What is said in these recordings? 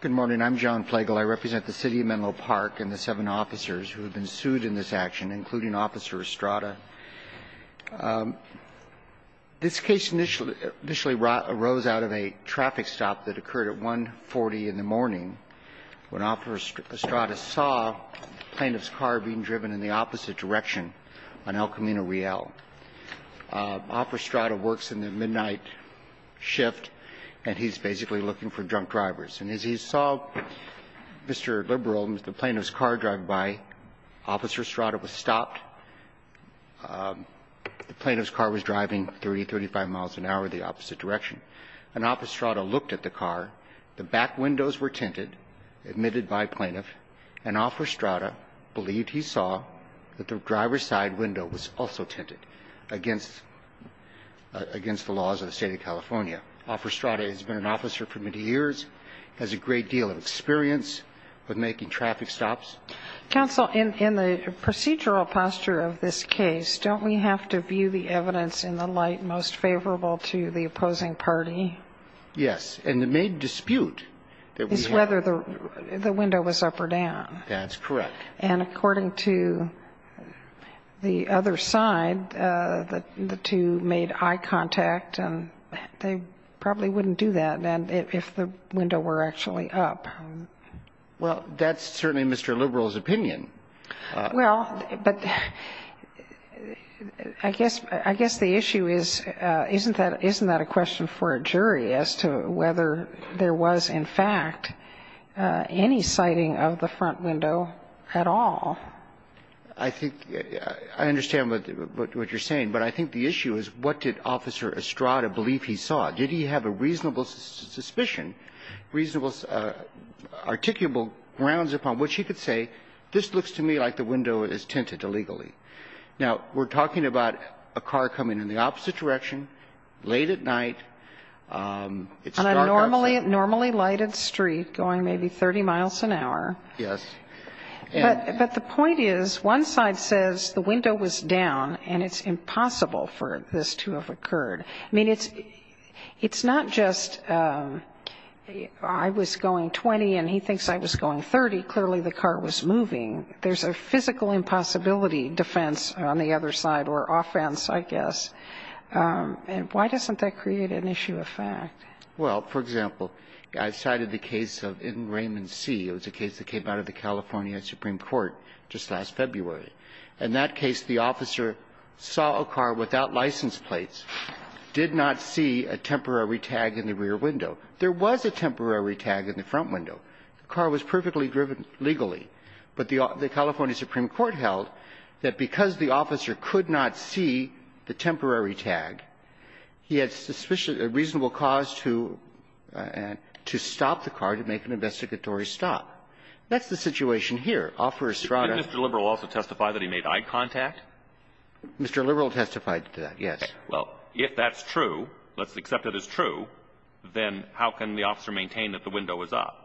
Good morning. I'm John Plagle. I represent the City of Menlo Park and the seven officers who have been sued in this action, including Officer Estrada. This case initially arose out of a traffic stop that occurred at 1.40 in the morning when Officer Estrada saw the plaintiff's car being driven in the opposite direction on El Camino Real. Officer Estrada works in the midnight shift, and he's basically looking for drunk drivers. And as he saw Mr. Liberal and the plaintiff's car drive by, Officer Estrada was stopped. The plaintiff's car was driving 30, 35 miles an hour the opposite direction. And Officer Estrada looked at the car. The back windows were tinted, admitted by plaintiff. And Officer Estrada believed he saw that the driver's side window was also tinted against the laws of the State of California. Officer Estrada has been an officer for many years, has a great deal of experience with making traffic stops. Counsel, in the procedural posture of this case, don't we have to view the evidence in the light most favorable to the opposing party? Yes. And the main dispute that we have is whether the window was up or down. That's correct. And according to the other side, the two made eye contact, and they probably wouldn't do that if the window were actually up. Well, that's certainly Mr. Liberal's opinion. Well, but I guess the issue is, isn't that a question for a jury as to whether there was, in fact, any sighting of the front window at all? I think I understand what you're saying, but I think the issue is what did Officer Estrada believe he saw? Did he have a reasonable suspicion, reasonable articulable grounds upon which he could say, this looks to me like the window is tinted illegally? Now, we're talking about a car coming in the opposite direction, late at night, it's dark outside. On a normally lighted street going maybe 30 miles an hour. Yes. But the point is, one side says the window was down and it's impossible for this to have occurred. I mean, it's not just I was going 20 and he thinks I was going 30. Clearly the car was moving. There's a physical impossibility defense on the other side, or offense, I guess. And why doesn't that create an issue of fact? Well, for example, I cited the case of Raymond C. It was a case that came out of the California Supreme Court just last February. In that case, the officer saw a car without license plates, did not see a temporary tag in the rear window. There was a temporary tag in the front window. The car was perfectly driven legally. But the California Supreme Court held that because the officer could not see the temporary tag, he had a reasonable cause to stop the car to make an investigatory stop. That's the situation here. Didn't Mr. Liberal also testify that he made eye contact? Mr. Liberal testified to that, yes. Okay. Well, if that's true, let's accept that it's true, then how can the officer maintain that the window was up?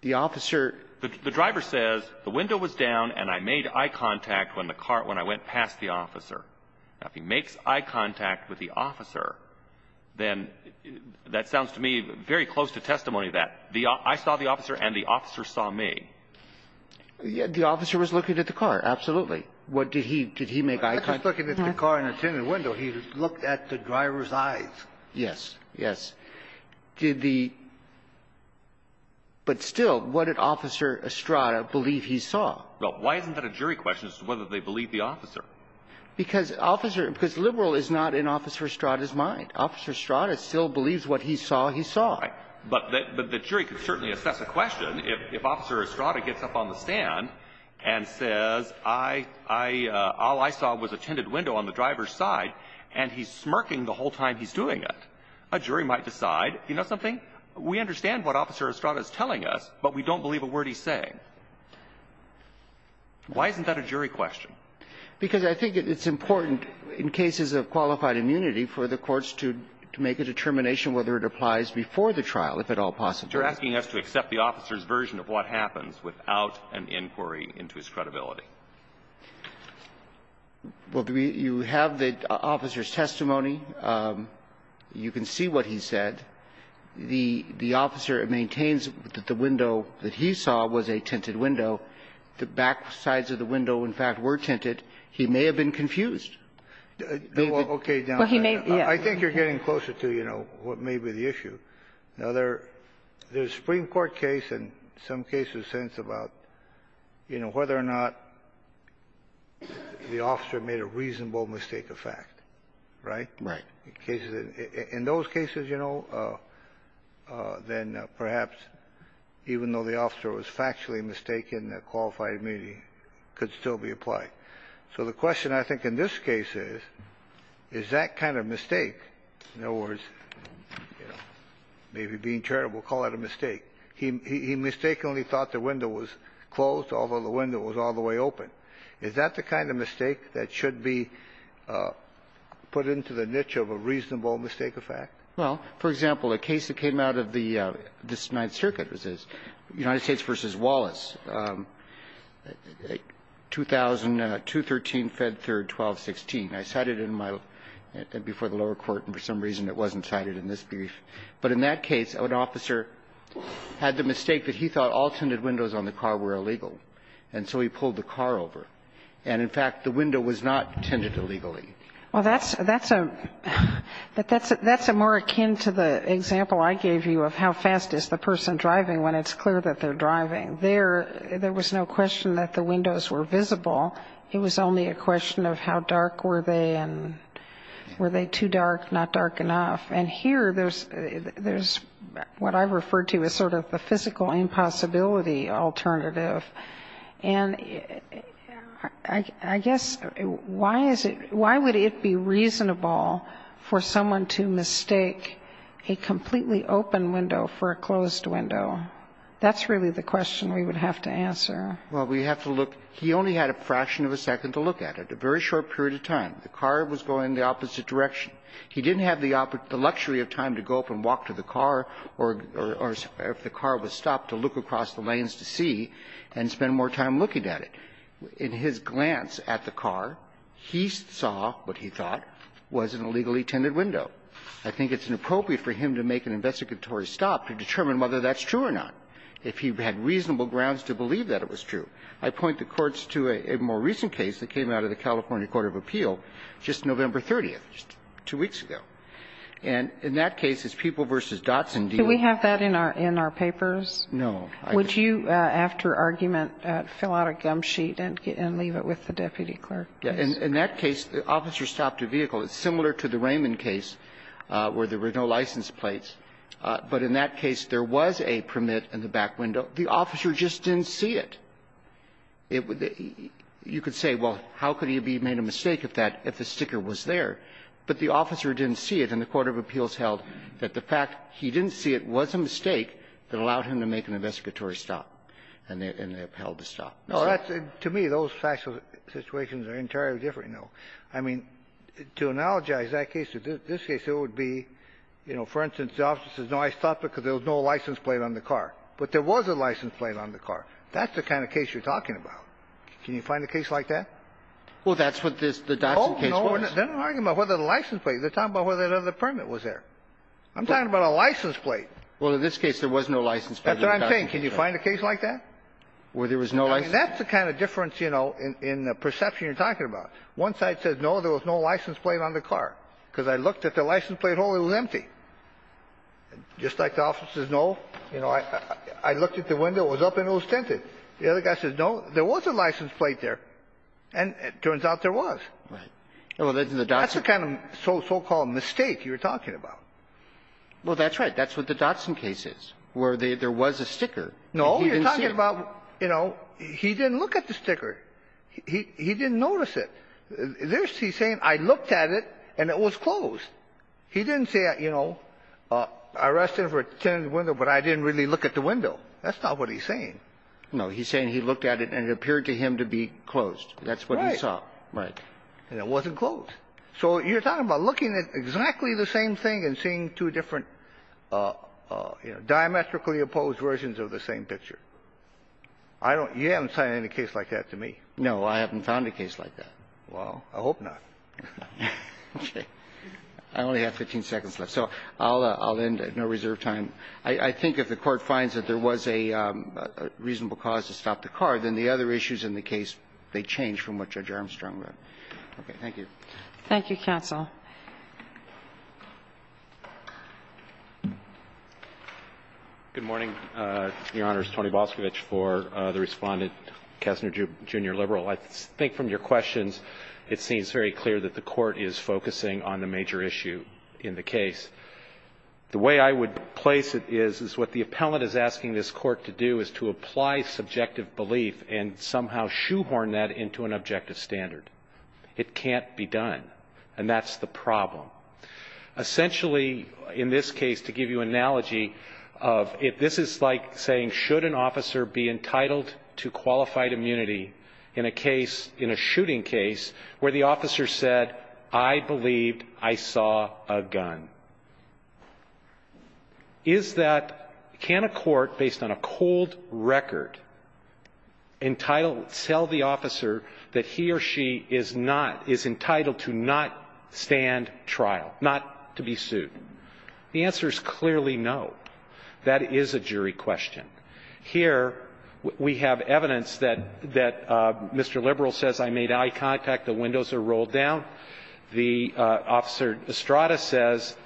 The officer — The driver says the window was down and I made eye contact when the car — when I went past the officer. Now, if he makes eye contact with the officer, then that sounds to me very close to testimony that I saw the officer and the officer saw me. The officer was looking at the car, absolutely. What did he — did he make eye contact? I was looking at the car in a tinted window. He looked at the driver's eyes. Yes. Yes. Did the — but still, what did Officer Estrada believe he saw? Well, why isn't that a jury question as to whether they believe the officer? Because officer — because Liberal is not in Officer Estrada's mind. Officer Estrada still believes what he saw he saw. Why? But the jury could certainly assess a question if Officer Estrada gets up on the stand and says, all I saw was a tinted window on the driver's side, and he's smirking the whole time he's doing it. A jury might decide, you know something, we understand what Officer Estrada is telling us, but we don't believe a word he's saying. Why isn't that a jury question? Because I think it's important in cases of qualified immunity for the courts to make a determination whether it applies before the trial, if at all possible. You're asking us to accept the officer's version of what happens without an inquiry into his credibility. Well, you have the officer's testimony. You can see what he said. The — the officer maintains that the window that he saw was a tinted window. The back sides of the window, in fact, were tinted. He may have been confused. Okay. Well, he may be. I think you're getting closer to, you know, what may be the issue. Now, there's a Supreme Court case and some cases since about, you know, whether or not the officer made a reasonable mistake of fact. Right? Right. In those cases, you know, then perhaps even though the officer was factually mistaken, the qualified immunity could still be applied. So the question, I think, in this case is, is that kind of mistake, in other words, you know, maybe being charitable, call it a mistake. He mistakenly thought the window was closed, although the window was all the way open. Is that the kind of mistake that should be put into the niche of a reasonable mistake of fact? Well, for example, a case that came out of the — this Ninth Circuit was this, United States, 2000, 213, Fed 3rd, 1216. I cited it in my — before the lower court, and for some reason it wasn't cited in this brief. But in that case, an officer had the mistake that he thought all tinted windows on the car were illegal, and so he pulled the car over. And, in fact, the window was not tinted illegally. Well, that's a — that's a more akin to the example I gave you of how fast is the person driving when it's clear that they're driving. There was no question that the windows were visible. It was only a question of how dark were they, and were they too dark, not dark enough. And here, there's what I refer to as sort of the physical impossibility alternative. And I guess why is it — why would it be reasonable for someone to mistake a completely open window for a closed window? That's really the question we would have to answer. Well, we have to look — he only had a fraction of a second to look at it, a very short period of time. The car was going the opposite direction. He didn't have the luxury of time to go up and walk to the car or, if the car was stopped, to look across the lanes to see and spend more time looking at it. In his glance at the car, he saw what he thought was an illegally tinted window. I think it's inappropriate for him to make an investigatory stop to determine whether that's true or not, if he had reasonable grounds to believe that it was true. I point the courts to a more recent case that came out of the California Court of Appeal just November 30th, just two weeks ago. And in that case, it's People v. Dotson dealing with — Do we have that in our papers? No. Would you, after argument, fill out a gum sheet and leave it with the deputy clerk? In that case, the officer stopped a vehicle. It's similar to the Raymond case where there were no license plates. But in that case, there was a permit in the back window. The officer just didn't see it. You could say, well, how could he have made a mistake if that — if the sticker was there? But the officer didn't see it, and the Court of Appeals held that the fact he didn't see it was a mistake that allowed him to make an investigatory stop. And they held the stop. No, that's — to me, those factual situations are entirely different, you know. I mean, to analogize that case to this case, it would be, you know, for instance, the officer says, no, I stopped because there was no license plate on the car. But there was a license plate on the car. That's the kind of case you're talking about. Can you find a case like that? Well, that's what this — the Dotson case was. Oh, no, they're not arguing about whether the license plate. They're talking about whether the permit was there. I'm talking about a license plate. Well, in this case, there was no license plate. That's what I'm saying. Can you find a case like that? Where there was no license plate? That's the kind of difference, you know, in the perception you're talking about. One side says, no, there was no license plate on the car, because I looked at the license plate hole, it was empty. Just like the officer says, no, you know, I looked at the window, it was up and it was tinted. The other guy says, no, there was a license plate there, and it turns out there was. Right. Well, that's the Dotson — That's the kind of so-called mistake you're talking about. Well, that's right. That's what the Dotson case is, where there was a sticker, and he didn't see it. No, you're talking about, you know, he didn't look at the sticker. He didn't notice it. There's — he's saying, I looked at it, and it was closed. He didn't say, you know, I rested for a tinted window, but I didn't really look at the window. That's not what he's saying. No. He's saying he looked at it, and it appeared to him to be closed. That's what he saw. Right. And it wasn't closed. So you're talking about looking at exactly the same thing and seeing two different, you know, diametrically opposed versions of the same picture. I don't — you haven't signed any case like that to me. No, I haven't found a case like that. Well, I hope not. Okay. I only have 15 seconds left, so I'll end at no reserve time. I think if the Court finds that there was a reasonable cause to stop the car, then the other issues in the case, they change from what Judge Armstrong wrote. Okay. Thank you. Thank you, counsel. Good morning, Your Honors. Tony Boscovich for the Respondent, Kessler, Jr., liberal. I think from your questions, it seems very clear that the Court is focusing on the major issue in the case. The way I would place it is, is what the appellant is asking this Court to do is to apply subjective belief and somehow shoehorn that into an objective standard. It can't be done. And that's the problem. Essentially, in this case, to give you an analogy of — if this is like saying, should an officer be entitled to qualified immunity in a case — in a shooting case where the officer said, I believed I saw a gun, is that — can a court, based on a cold record, entitle — tell the officer that he or she is not — is entitled to not stand trial, not to be sued? The answer is clearly no. That is a jury question. Here, we have evidence that Mr. Liberal says, I made eye contact, the windows are rolled down. The officer, Estrada, says,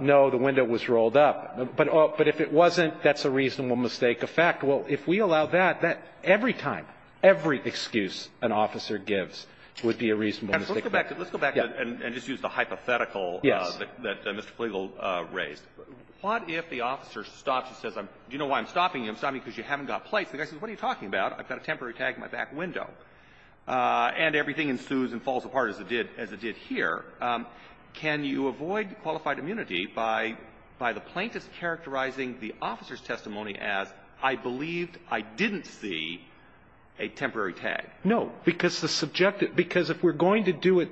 no, the window was rolled up. But if it wasn't, that's a reasonable mistake of fact. Well, if we allow that, every time, every excuse an officer gives would be a reasonable mistake of fact. Let's go back and just use the hypothetical that Mr. Flegel raised. What if the officer stops and says, do you know why I'm stopping you? I'm stopping you because you haven't got plates. The guy says, what are you talking about? I've got a temporary tag in my back window. And everything ensues and falls apart as it did here. Can you avoid qualified immunity by the plaintiff characterizing the officer's testimony as, I believed I didn't see a temporary tag? No, because the subjective, because if we're going to do it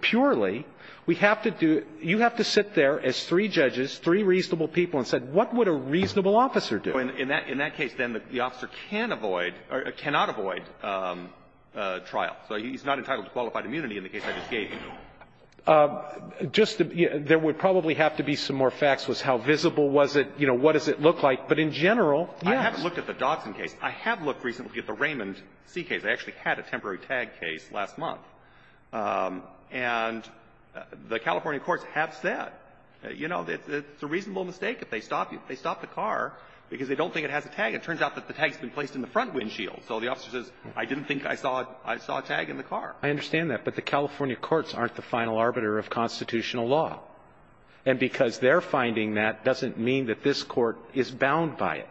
purely, we have to do you have to sit there as three judges, three reasonable people, and say, what would a reasonable officer do? In that case, then, the officer can avoid or cannot avoid trial. So he's not entitled to qualified immunity in the case I just gave you. Just there would probably have to be some more facts with how visible was it, you know, what does it look like. But in general, yes. I haven't looked at the Dodson case. I have looked recently at the Raymond C. case. They actually had a temporary tag case last month. And the California courts have said, you know, it's a reasonable mistake if they stop you, if they stop the car, because they don't think it has a tag. It turns out that the tag's been placed in the front windshield. So the officer says, I didn't think I saw a tag in the car. I understand that. But the California courts aren't the final arbiter of constitutional law. And because they're finding that doesn't mean that this Court is bound by it.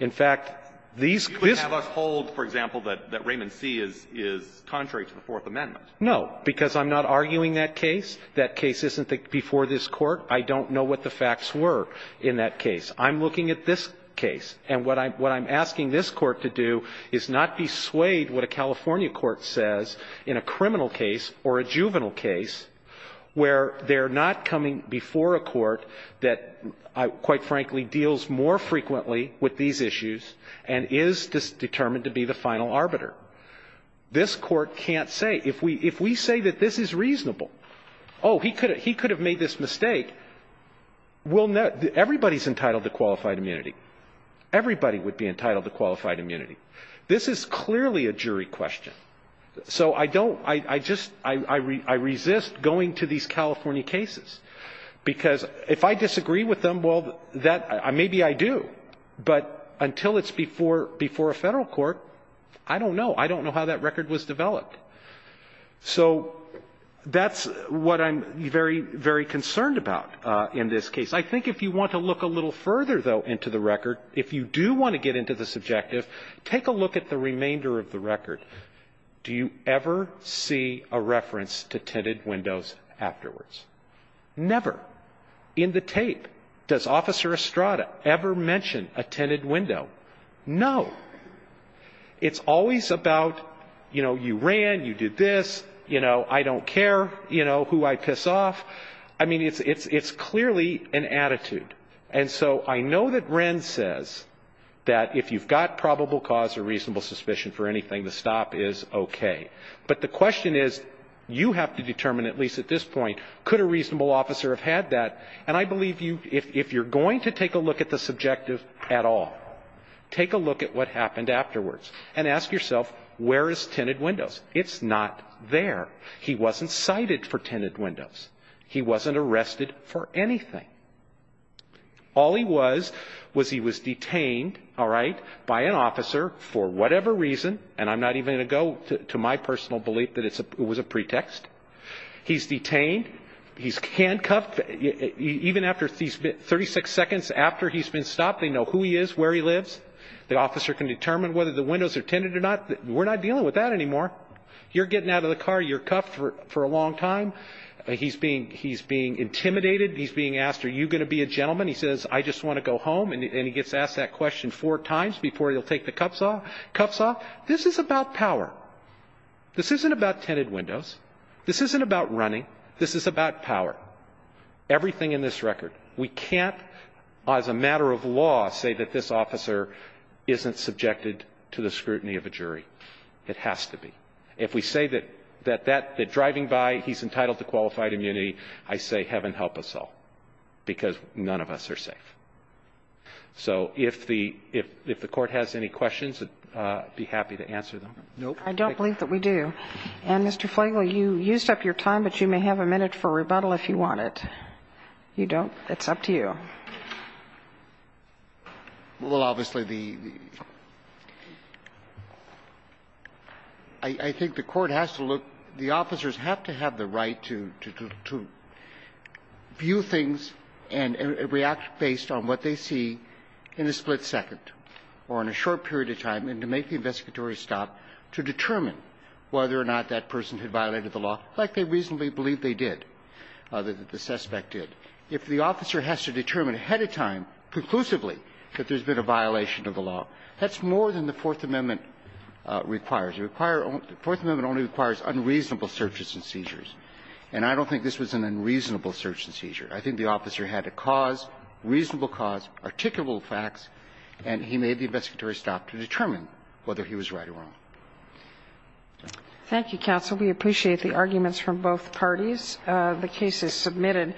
In fact, these cases ---- Mr. Carney, you wouldn't have us hold, for example, that Raymond C. is contrary to the Fourth Amendment. No. Because I'm not arguing that case. That case isn't before this Court. I don't know what the facts were in that case. I'm looking at this case. And what I'm asking this Court to do is not be swayed what a California court says in a criminal case or a juvenile case where they're not coming before a court that, quite frankly, deals more frequently with these issues and is determined to be the final arbiter. This Court can't say, if we say that this is reasonable, oh, he could have made this mistake, we'll know. Everybody's entitled to qualified immunity. Everybody would be entitled to qualified immunity. This is clearly a jury question. So I don't ---- I just ---- I resist going to these California cases. Because if I disagree with them, well, that ---- maybe I do. But until it's before a Federal court, I don't know. I don't know how that record was developed. So that's what I'm very, very concerned about in this case. I think if you want to look a little further, though, into the record, if you do want to get into the subjective, take a look at the remainder of the record. Do you ever see a reference to tinted windows afterwards? Never. In the tape. Does Officer Estrada ever mention a tinted window? No. It's always about, you know, you ran, you did this, you know, I don't care, you know, who I piss off. I mean, it's clearly an attitude. And so I know that Wren says that if you've got probable cause or reasonable suspicion for anything, the stop is okay. But the question is, you have to determine at least at this point, could a reasonable officer have had that? And I believe you, if you're going to take a look at the subjective at all, take a look at what happened afterwards and ask yourself, where is tinted windows? It's not there. He wasn't cited for tinted windows. He wasn't arrested for anything. All he was, was he was detained, all right, by an officer for whatever reason, and I'm not even going to go to my personal belief that it was a pretext. He's detained. He's handcuffed. Even after 36 seconds after he's been stopped, they know who he is, where he lives. The officer can determine whether the windows are tinted or not. We're not dealing with that anymore. You're getting out of the car, you're cuffed for a long time. He's being intimidated. He's being asked, are you going to be a gentleman? He says, I just want to go home. And he gets asked that question four times before he'll take the cuffs off. This is about power. This isn't about tinted windows. This isn't about running. This is about power. Everything in this record. We can't, as a matter of law, say that this officer isn't subjected to the scrutiny of a jury. It has to be. If we say that driving by, he's entitled to qualified immunity, I say, heaven help us all, because none of us are safe. So if the Court has any questions, I'd be happy to answer them. Nope. I don't believe that we do. And, Mr. Flegel, you used up your time, but you may have a minute for rebuttal if you want it. You don't? It's up to you. Well, obviously, the – I think the Court has to look – the officers have to have the right to view things and react based on what they see in a split second or in a short period of time and to make the investigatory stop to determine whether or not that person had violated the law, like they reasonably believe they did, that the suspect did. If the officer has to determine ahead of time, conclusively, that there's been a violation of the law, that's more than the Fourth Amendment requires. It requires – the Fourth Amendment only requires unreasonable searches and seizures. And I don't think this was an unreasonable search and seizure. I think the officer had a cause, reasonable cause, articulable facts, and he made the investigatory stop to determine whether he was right or wrong. Thank you, counsel. We appreciate the arguments from both parties. The case is submitted.